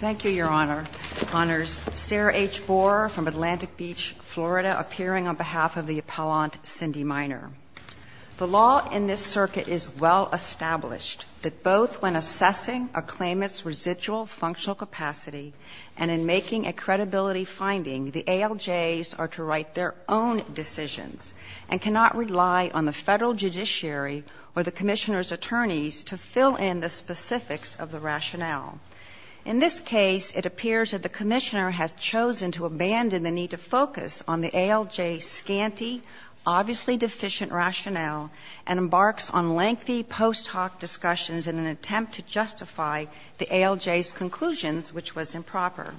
Thank you, Your Honor. It honors Sarah H. Borer from Atlantic Beach, Florida, appearing on behalf of the appellant Cindy Miner. The law in this circuit is well established that both when assessing a claimant's residual functional capacity and in making a credibility finding, the ALJs are to write their own decisions and cannot rely on the Federal judiciary or the Commissioner's attorneys to fill in the specifics of the rationale. In this case, it appears that the Commissioner has chosen to abandon the need to focus on the ALJ's scanty, obviously deficient rationale and embarks on lengthy post-hoc discussions in an attempt to justify the ALJ's conclusions, which was improper.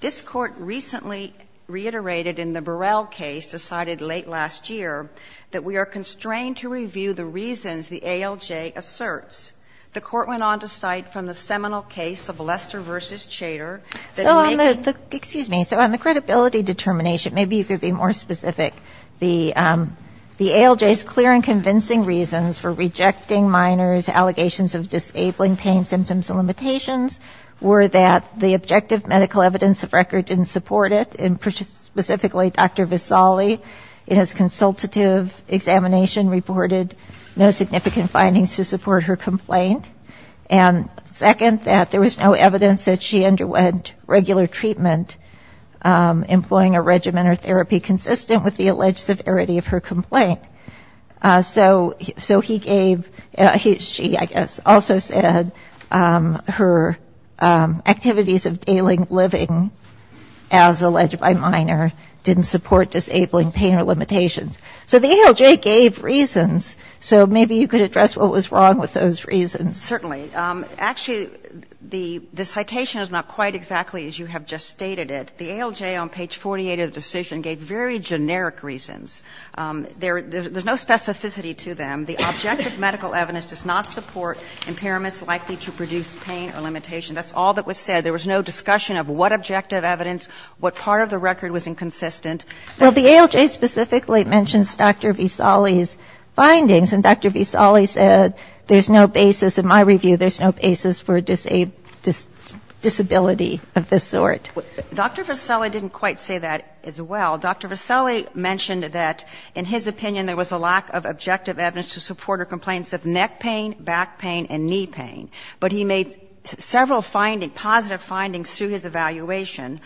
This Court recently reiterated in the Burrell case decided late last year that we are The Court went on to cite, from the seminal case of Lester v. Chater, that we make the So on the, excuse me, so on the credibility determination, maybe you could be more specific, the ALJ's clear and convincing reasons for rejecting Miner's allegations of disabling pain symptoms and limitations were that the objective medical evidence of record didn't support it, and specifically Dr. Visali, in his consultative examination, reported no significant findings to support her complaint. And second, that there was no evidence that she underwent regular treatment, employing a regimen or therapy consistent with the alleged severity of her complaint. So he gave, she, I guess, also said her activities of daily living, as alleged by Miner, didn't support disabling pain or limitations. So the ALJ gave reasons, so maybe you could address what was wrong with those reasons. Certainly. Actually, the citation is not quite exactly as you have just stated it. The ALJ on page 48 of the decision gave very generic reasons. There's no specificity to them. The objective medical evidence does not support impairments likely to produce pain or limitation. That's all that was said. There was no discussion of what objective evidence, what part of the record was inconsistent. Well, the ALJ specifically mentions Dr. Visali's findings, and Dr. Visali said there's no basis, in my review, there's no basis for disability of this sort. Dr. Visali didn't quite say that as well. Dr. Visali mentioned that, in his opinion, there was a lack of objective evidence to support her complaints of neck pain, back pain, and knee pain. But he made several positive findings through his evaluation.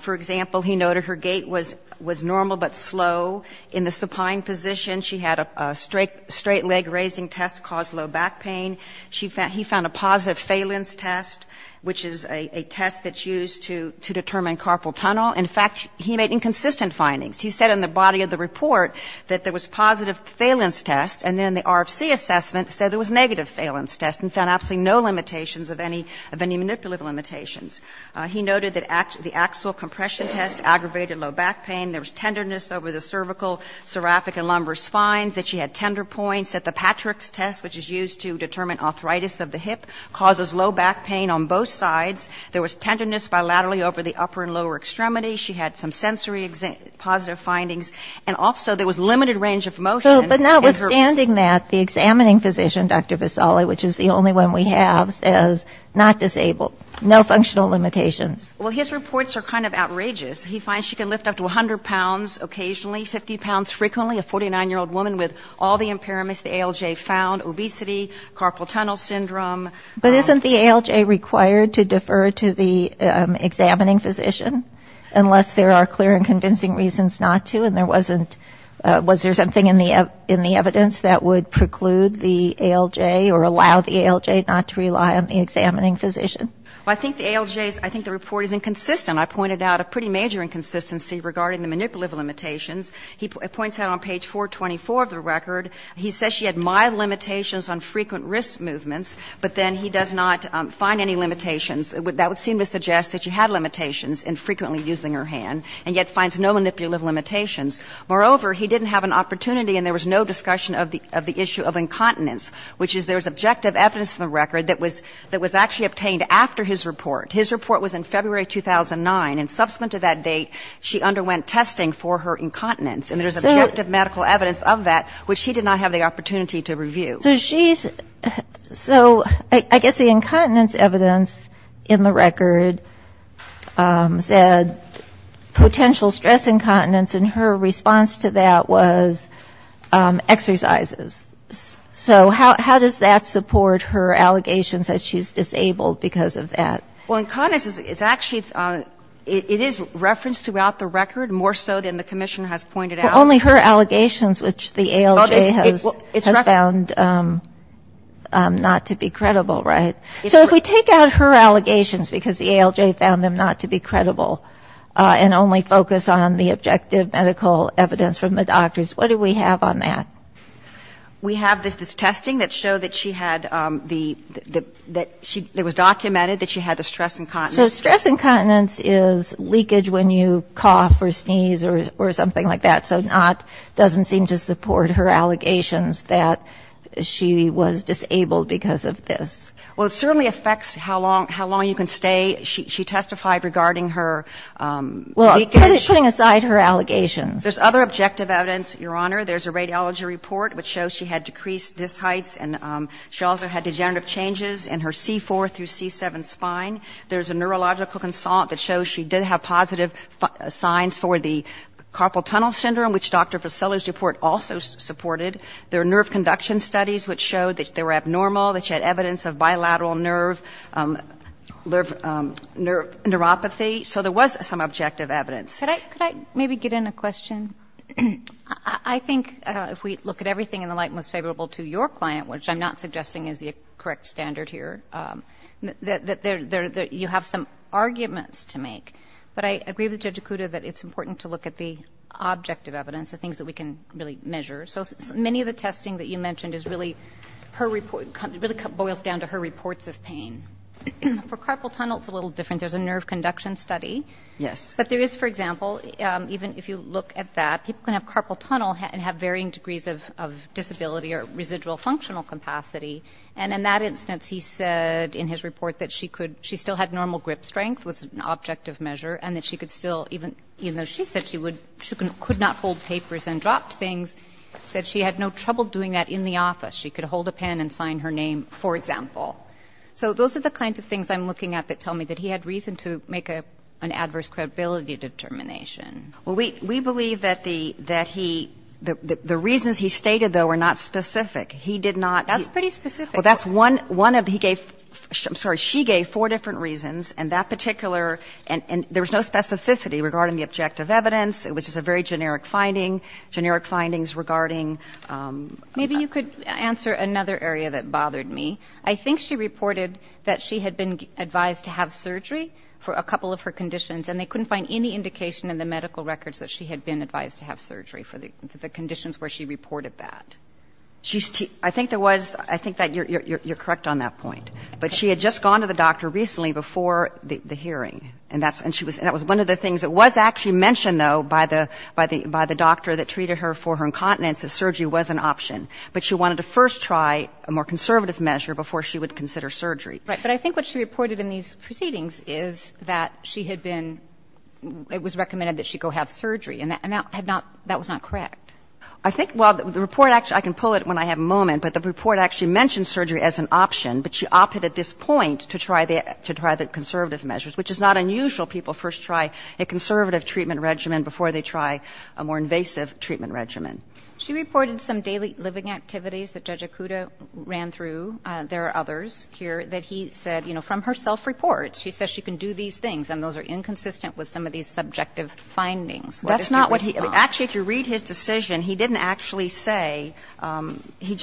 For example, he noted her gait was normal but slow. In the supine position, she had a straight leg raising test cause low back pain. He found a positive phalanx test, which is a test that's used to determine carpal tunnel. In fact, he made inconsistent findings. He said in the body of the report that there was positive phalanx test, and then the RFC assessment said there was negative phalanx test, and found absolutely no limitations of any manipulative limitations. He noted that the axial compression test aggravated low back pain. There was tenderness over the cervical, cervical, and lumbar spines, that she had tender points, that the Patrick's test, which is used to determine arthritis of the hip, causes low back pain on both sides. There was tenderness bilaterally over the upper and lower extremities. She had some sensory positive findings. And also, there was limited range of motion. But notwithstanding that, the examining physician, Dr. Visali, which is the only one we have, says not disabled. No functional limitations. Well, his reports are kind of outrageous. He finds she can lift up to 100 pounds occasionally, 50 pounds frequently. A 49-year-old woman with all the impairments the ALJ found. Obesity, carpal tunnel syndrome. But isn't the ALJ required to defer to the examining physician? Unless there are clear and convincing reasons not to, and there wasn't, was there something in the evidence that would preclude the ALJ or allow the ALJ not to rely on the examining physician? Well, I think the ALJ's, I think the report is inconsistent. I pointed out a pretty major inconsistency regarding the manipulative limitations. He points out on page 424 of the record, he says she had mild limitations on frequent wrist movements, but then he does not find any limitations. That would seem to suggest that she had limitations in frequently using her hand, and yet finds no manipulative limitations. Moreover, he didn't have an opportunity, and there was no discussion of the record that was actually obtained after his report. His report was in February 2009, and subsequent to that date, she underwent testing for her incontinence, and there's objective medical evidence of that, which she did not have the opportunity to review. So she's, so I guess the incontinence evidence in the record said potential stress incontinence, and her response to that was exercises. So how does that support her allegations that she's disabled because of that? Well, incontinence is actually, it is referenced throughout the record, more so than the commissioner has pointed out. Only her allegations, which the ALJ has found not to be credible, right? So if we take out her allegations, because the ALJ found them not to be credible, and only focus on the objective medical evidence from the doctors, what do we have on that? We have the testing that showed that she had the, that she, it was documented that she had the stress incontinence. So stress incontinence is leakage when you cough or sneeze or something like that, so not, doesn't seem to support her allegations that she was disabled because of this. Well, it certainly affects how long, how long you can stay. She testified regarding her leakage. Well, putting aside her allegations. There's other objective evidence, Your Honor. There's a radiology report which shows she had decreased disc heights, and she also had degenerative changes in her C4 through C7 spine. There's a neurological consult that shows she did have positive signs for the carpal tunnel syndrome, which Dr. Vassillo's report also supported. There are nerve conduction studies which showed that they were abnormal, that she had evidence of bilateral nerve, nerve, neuropathy. So there was some objective evidence. Could I, could I maybe get in a question? I think if we look at everything in the light most favorable to your client, which I'm not suggesting is the correct standard here, that you have some arguments to make. But I agree with Judge Okuda that it's important to look at the objective evidence, the things that we can really measure. So many of the testing that you mentioned is really, really boils down to her reports of pain. For carpal tunnel, it's a little different. There's a nerve conduction study. Yes. But there is, for example, even if you look at that, people can have carpal tunnel and have varying degrees of disability or residual functional capacity. And in that instance, he said in his report that she could, she still had normal grip strength was an objective measure, and that she could still, even though she said she would, she could not hold papers and dropped things, said she had no trouble doing that in the office. She could hold a pen and sign her name, for example. So those are the kinds of things I'm looking at that tell me that he had reason to make an adverse credibility determination. Well, we believe that he, the reasons he stated, though, are not specific. He did not. That's pretty specific. Well, that's one of, he gave, I'm sorry, she gave four different reasons, and that particular, and there was no specificity regarding the objective evidence. It was just a very generic finding, generic findings regarding. Maybe you could answer another area that bothered me. I think she reported that she had been advised to have surgery for a couple of her conditions, and they couldn't find any indication in the medical records that she had been advised to have surgery for the conditions where she reported that. She's, I think there was, I think that you're correct on that point. But she had just gone to the doctor recently before the hearing. And that's, and she was, and that was one of the things that was actually mentioned, though, by the, by the doctor that treated her for her incontinence that surgery was an option. But she wanted to first try a more conservative measure before she would consider surgery. Right. But I think what she reported in these proceedings is that she had been, it was recommended that she go have surgery, and that had not, that was not correct. I think, well, the report actually, I can pull it when I have a moment, but the report actually mentioned surgery as an option, but she opted at this point to try the, to try the conservative measures, which is not unusual. People first try a conservative treatment regimen before they try a more invasive treatment regimen. She reported some daily living activities that Judge Okuda ran through. There are others here that he said, you know, from her self-reports, she says she can do these things, and those are inconsistent with some of these subjective findings. That's not what he, actually, if you read his decision, he didn't actually say, he,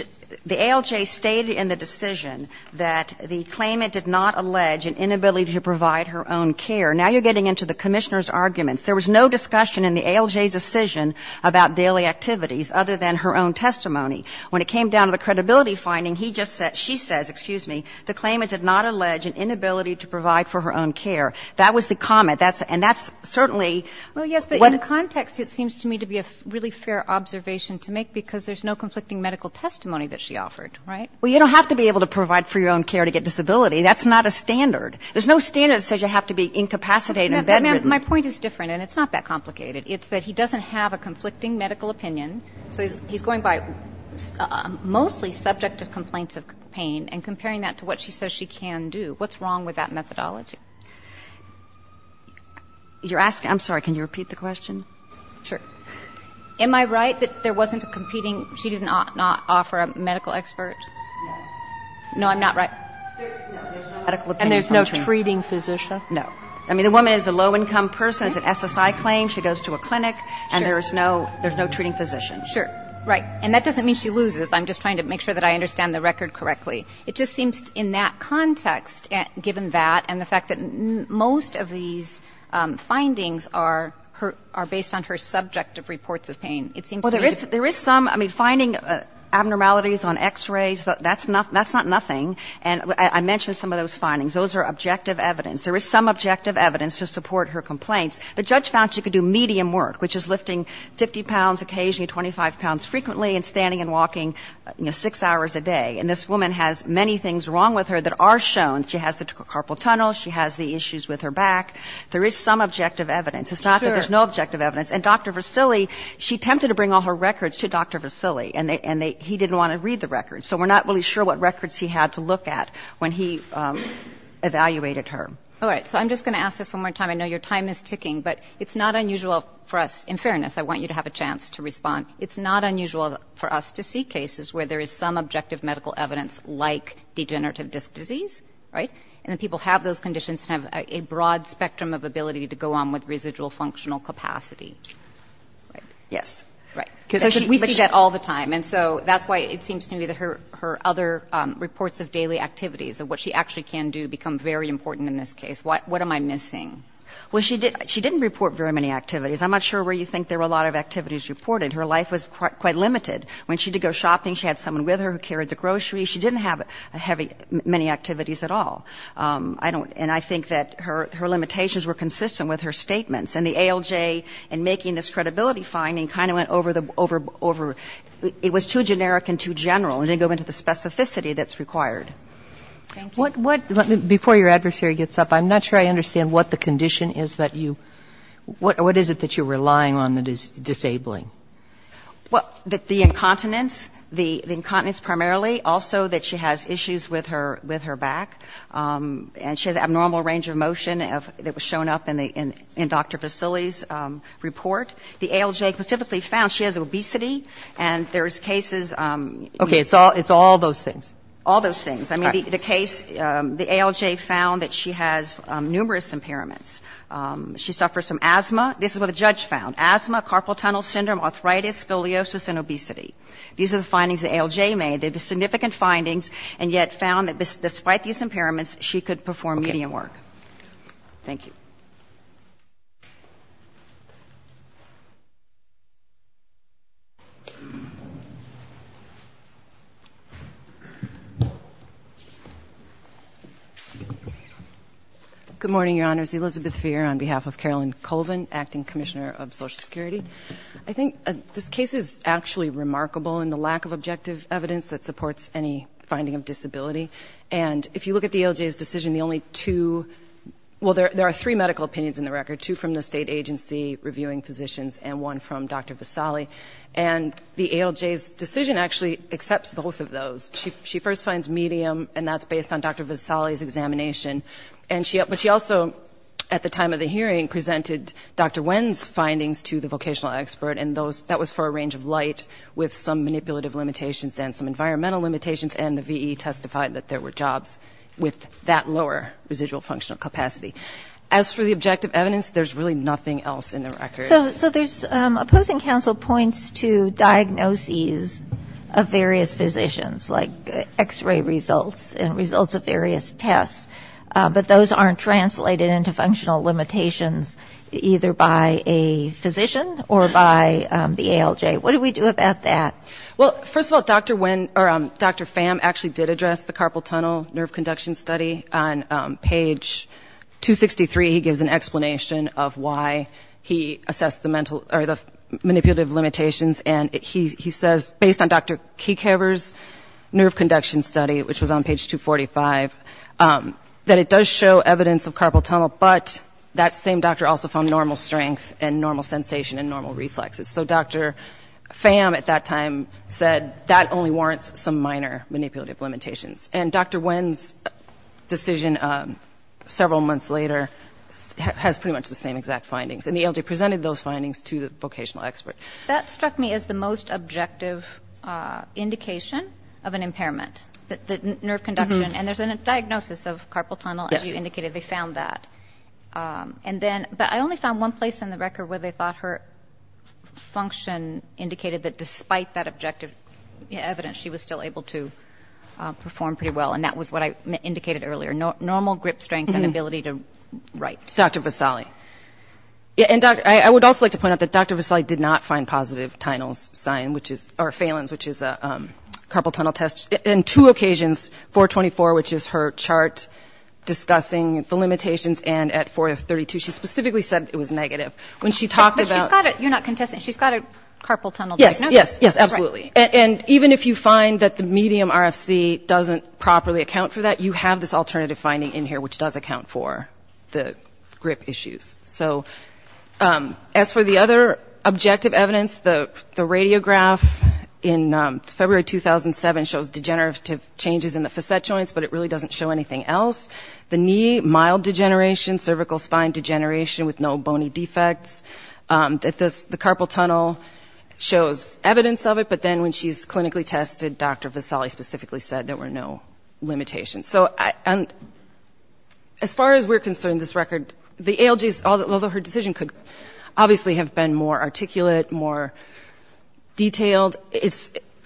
the ALJ stated in the decision that the claimant did not allege an inability to provide her own care. Now you're getting into the Commissioner's arguments. There was no discussion in the ALJ's decision about daily activities other than her own testimony. When it came down to the credibility finding, he just said, she says, excuse me, the claimant did not allege an inability to provide for her own care. That was the comment. That's, and that's certainly. Well, yes, but in context, it seems to me to be a really fair observation to make because there's no conflicting medical testimony that she offered, right? Well, you don't have to be able to provide for your own care to get disability. That's not a standard. There's no standard that says you have to be incapacitated and bedridden. My point is different, and it's not that complicated. It's that he doesn't have a conflicting medical opinion. So he's going by mostly subjective complaints of pain and comparing that to what she says she can do. What's wrong with that methodology? You're asking, I'm sorry, can you repeat the question? Sure. Am I right that there wasn't a competing, she did not offer a medical expert? No. No, I'm not right? No, there's no medical opinion. And there's no treating physician? No. I mean, the woman is a low-income person, has an SSI claim, she goes to a clinic, and there's no treating physician. Sure, right. And that doesn't mean she loses. I'm just trying to make sure that I understand the record correctly. It just seems in that context, given that and the fact that most of these findings are based on her subjective reports of pain, it seems to me that... Well, there is some, I mean, finding abnormalities on x-rays, that's not nothing. And I mentioned some of those findings. Those are objective evidence. There is some objective evidence to support her complaints. The judge found she could do medium work, which is lifting 50 pounds occasionally, 25 pounds frequently, and standing and walking six hours a day. And this woman has many things wrong with her that are shown. She has the carpal tunnel. She has the issues with her back. There is some objective evidence. It's not that there's no objective evidence. And Dr. Vasili, she attempted to bring all her records to Dr. Vasili, and he didn't want to read the records. So we're not really sure what records he had to look at when he evaluated her. All right. So I'm just going to ask this one more time. I know your time is ticking, but it's not unusual for us. In fairness, I want you to have a chance to respond. It's not unusual for us to see cases where there is some objective medical evidence like degenerative disc disease, right? And the people who have those conditions have a broad spectrum of ability to go on with residual functional capacity. Yes. Right. So we see that all the time. And so that's why it seems to me that her other reports of daily activities, of what she actually can do, become very important in this case. What am I missing? Well, she didn't report very many activities. I'm not sure where you think there were a lot of activities reported. Her life was quite limited. When she did go shopping, she had someone with her who carried the groceries. She didn't have many activities at all. And I think that her limitations were consistent with her statements. And the ALJ in making this credibility finding kind of went over the ‑‑ it was too generic and too general. It didn't go into the specificity that's required. Thank you. Before your adversary gets up, I'm not sure I understand what the condition is that you ‑‑ what is it that you're relying on that is disabling? Well, the incontinence, the incontinence primarily. Also that she has issues with her back. And she has abnormal range of motion that was shown up in Dr. Vasili's report. The ALJ specifically found she has obesity. And there's cases ‑‑ Okay. It's all those things. All those things. I mean, the case, the ALJ found that she has numerous impairments. She suffers from asthma. This is what the judge found. Asthma, carpal tunnel syndrome, arthritis, scoliosis, and obesity. These are the findings the ALJ made. They're the significant findings, and yet found that despite these impairments, she could perform medium work. Okay. Thank you. Good morning, Your Honors. Elizabeth Feer on behalf of Carolyn Colvin, Acting Commissioner of Social Security. I think this case is actually remarkable in the lack of objective evidence that supports any finding of disability. And if you look at the ALJ's decision, the only two ‑‑ well, there are three medical opinions in the record, two from the state agency reviewing physicians and one from Dr. Vasili. And the ALJ's decision actually accepts both of those. She first finds medium, and that's based on Dr. Vasili's examination. But she also, at the time of the hearing, presented Dr. Wen's findings to the vocational expert, and that was for a range of light with some manipulative limitations and some environmental limitations, and the VE testified that there were jobs with that lower residual functional capacity. As for the objective evidence, there's really nothing else in the record. So there's opposing counsel points to diagnoses of various physicians, like X‑ray results and results of various tests, but those aren't translated into functional limitations, either by a physician or by the ALJ. What do we do about that? Well, first of all, Dr. Wen, or Dr. Pham, actually did address the carpal tunnel nerve conduction study. On page 263, he gives an explanation of why he assessed the manipulative limitations, and he says, based on Dr. Keekhaver's nerve conduction study, which was on page 245, that it does show evidence of carpal tunnel, but that same doctor also found normal strength and normal sensation and normal reflexes. So Dr. Pham, at that time, said that only warrants some minor manipulative limitations. And Dr. Wen's decision several months later has pretty much the same exact findings, and the ALJ presented those findings to the vocational expert. That struck me as the most objective indication of an impairment, the nerve conduction, and there's a diagnosis of carpal tunnel, as you indicated. They found that. But I only found one place in the record where they thought her function indicated that, despite that objective evidence, she was still able to perform pretty well, and that was what I indicated earlier, normal grip strength and ability to write. Dr. Vasali. I would also like to point out that Dr. Vasali did not find positive Phalen's, which is a carpal tunnel test, in two occasions, 424, which is her chart discussing the limitations, and at 432, she specifically said it was negative. When she talked about— But she's got a—you're not contesting—she's got a carpal tunnel diagnosis. Yes, yes, absolutely. And even if you find that the medium RFC doesn't properly account for that, you have this alternative finding in here, which does account for the grip issues. So as for the other objective evidence, the radiograph in February 2007 shows degenerative changes in the facet joints, but it really doesn't show anything else. The knee, mild degeneration, cervical spine degeneration with no bony defects. The carpal tunnel shows evidence of it, but then when she's clinically tested, Dr. Vasali specifically said there were no limitations. And as far as we're concerned, this record, the ALGs, although her decision could obviously have been more articulate, more detailed,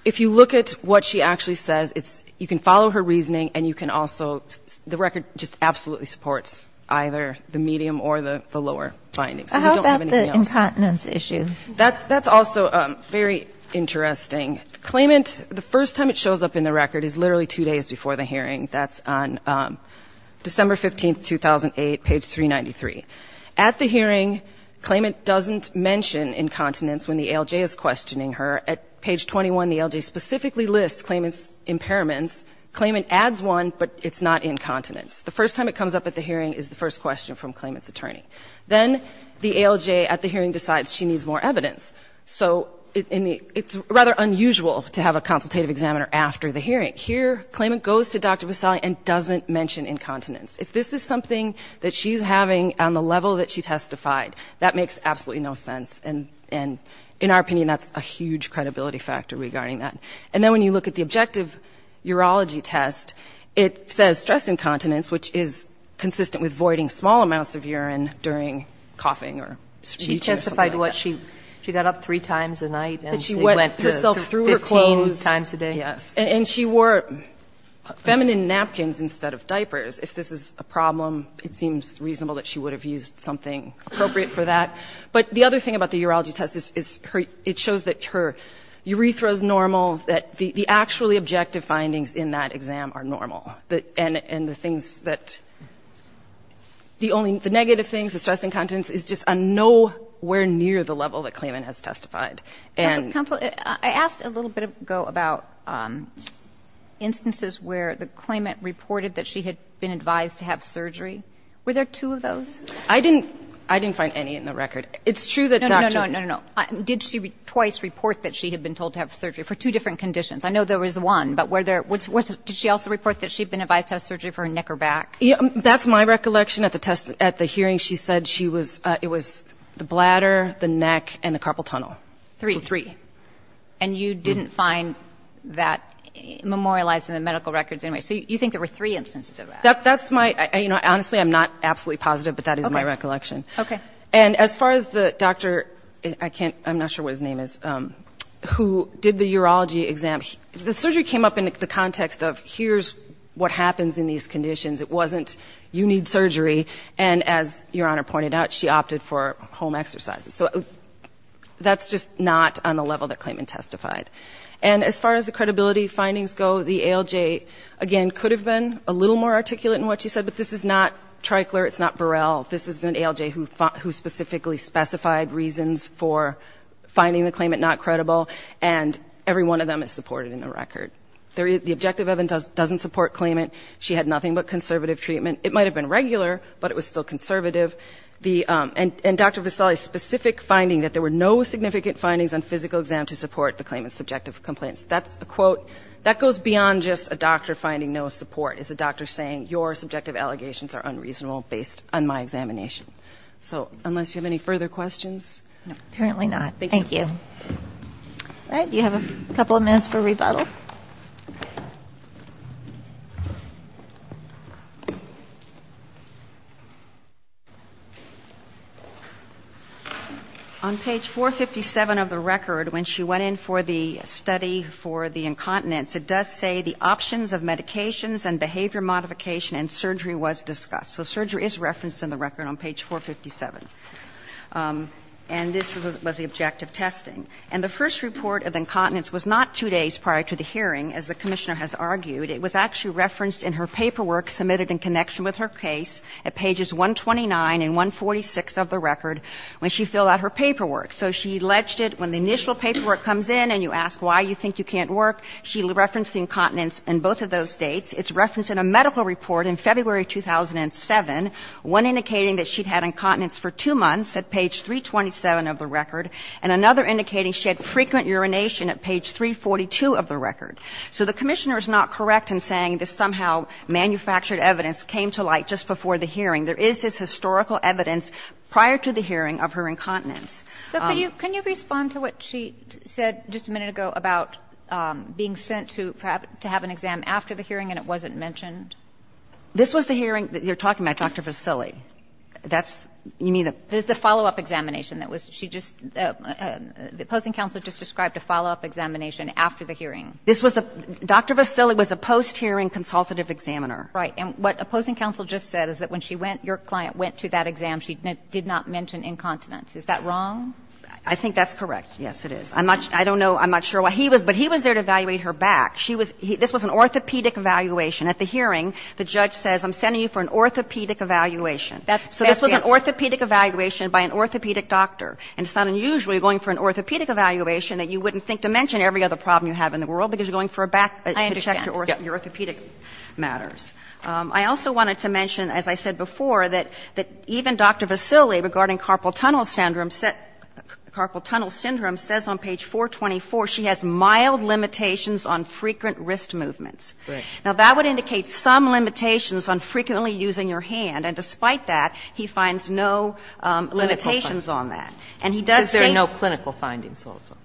if you look at what she actually says, you can follow her reasoning, and you can also—the record just absolutely supports either the medium or the lower findings. How about the incontinence issue? That's also very interesting. The claimant, the first time it shows up in the record is literally two days before the hearing. That's on December 15, 2008, page 393. At the hearing, claimant doesn't mention incontinence when the ALJ is questioning her. At page 21, the ALJ specifically lists claimant's impairments. Claimant adds one, but it's not incontinence. The first time it comes up at the hearing is the first question from claimant's attorney. Then the ALJ at the hearing decides she needs more evidence. So it's rather unusual to have a consultative examiner after the hearing. Here, claimant goes to Dr. Vasali and doesn't mention incontinence. If this is something that she's having on the level that she testified, that makes absolutely no sense. And in our opinion, that's a huge credibility factor regarding that. And then when you look at the objective urology test, it says stress incontinence, which is consistent with voiding small amounts of urine during coughing or speech or something like that. She testified what she—she got up three times a night and went through 15 times a day. That she wet herself through her clothes, yes. And she wore feminine napkins instead of diapers. If this is a problem, it seems reasonable that she would have used something appropriate for that. But the other thing about the urology test is it shows that her urethra is normal, that the actually objective findings in that exam are normal. And the things that—the only—the negative things, the stress incontinence, is just nowhere near the level that claimant has testified. Counsel, I asked a little bit ago about instances where the claimant reported that she had been advised to have surgery. Were there two of those? I didn't—I didn't find any in the record. It's true that Dr. No, no, no, no, no, no. Did she twice report that she had been told to have surgery for two different conditions? I know there was one, but were there—did she also report that she had been advised to have surgery for her neck or back? That's my recollection. At the test—at the hearing, she said she was—it was the bladder, the neck, and the carpal tunnel. Three. So three. And you didn't find that memorialized in the medical records anyway. So you think there were three instances of that? That's my—you know, honestly, I'm not absolutely positive, but that is my recollection. Okay. And as far as the doctor—I can't—I'm not sure what his name is—who did the urology exam, the surgery came up in the context of here's what happens in these conditions. It wasn't you need surgery. And as Your Honor pointed out, she opted for home exercises. So that's just not on the level that claimant testified. And as far as the credibility findings go, the ALJ, again, could have been a little more articulate in what she said, but this is not Tricler, it's not Burrell. This is an ALJ who specifically specified reasons for finding the claimant not credible, and every one of them is supported in the record. The objective evidence doesn't support claimant. She had nothing but conservative treatment. It might have been regular, but it was still conservative. And Dr. Visali's specific finding that there were no significant findings on physical exam to support the claimant's subjective complaints. That's a quote—that goes beyond just a doctor finding no support. It's a doctor saying your subjective allegations are unreasonable based on my examination. So unless you have any further questions. No, apparently not. Thank you. All right. Do you have a couple of minutes for rebuttal? On page 457 of the record, when she went in for the study for the incontinence, it does say the options of medications and behavior modification and surgery was discussed. So surgery is referenced in the record on page 457. And this was the objective testing. And the first report of incontinence was not two days prior to the hearing, as the Commissioner has argued. It was actually referenced in her paperwork submitted in connection with her case at pages 129 and 146 of the record when she filled out her paperwork. So she alleged it when the initial paperwork comes in and you ask why you think you can't work, she referenced the incontinence in both of those dates. It's referenced in a medical report in February 2007, one indicating that she'd had incontinence for two months at page 327 of the record, and another indicating she had frequent urination at page 342 of the record. So the Commissioner is not correct in saying this somehow manufactured evidence came to light just before the hearing. There is this historical evidence prior to the hearing of her incontinence. So for you, can you respond to what she said just a minute ago about being sent to have an exam after the hearing and it wasn't mentioned? This was the hearing that you're talking about, Dr. Vasili. That's, you mean the It's the follow-up examination that was, she just, the opposing counsel just described a follow-up examination after the hearing. This was the, Dr. Vasili was a post-hearing consultative examiner. Right. And what opposing counsel just said is that when she went, your client went to that exam, she did not mention incontinence. Is that wrong? I think that's correct. Yes, it is. I'm not, I don't know, I'm not sure why. He was, but he was there to evaluate her back. She was, this was an orthopedic evaluation. At the hearing, the judge says, I'm sending you for an orthopedic evaluation. That's, that's the answer. So this was an orthopedic evaluation by an orthopedic doctor. And it's not unusual you're going for an orthopedic evaluation that you wouldn't think to mention every other problem you have in the world because you're going for a back, to check your orthopedic matters. I understand. I also wanted to mention, as I said before, that even Dr. Vasili, regarding carpal tunnel syndrome, carpal tunnel syndrome says on page 424, she has mild limitations on frequent wrist movements. Right. Now, that would indicate some limitations on frequently using your hand. And despite that, he finds no limitations on that. And he does say. Because there are no clinical findings also.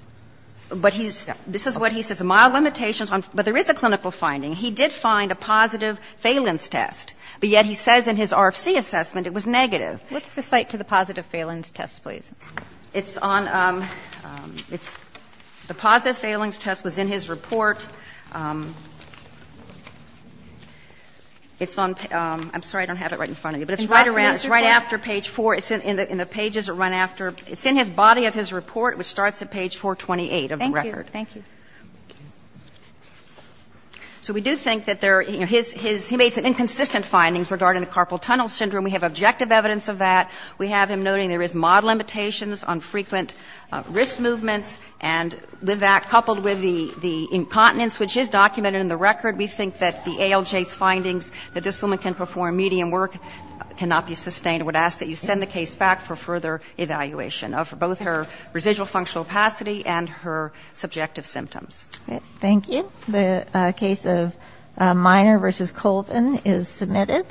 But he's, this is what he says. Mild limitations on, but there is a clinical finding. He did find a positive Phelan's test. But yet he says in his RFC assessment it was negative. What's the site to the positive Phelan's test, please? It's on, it's, the positive Phelan's test was in his report. It's on, I'm sorry, I don't have it right in front of you. But it's right around, it's right after page 4. It's in the pages that run after. It's in his body of his report, which starts at page 428 of the record. Thank you. Thank you. So we do think that there, you know, his, he made some inconsistent findings regarding the carpal tunnel syndrome. We have objective evidence of that. We have him noting there is mild limitations on frequent wrist movements. And with that, coupled with the incontinence, which is documented in the record, we think that the ALJ's findings that this woman can perform medium work cannot be sustained. I would ask that you send the case back for further evaluation of both her residual functional capacity and her subjective symptoms. Thank you. The case of Miner v. Colvin is submitted.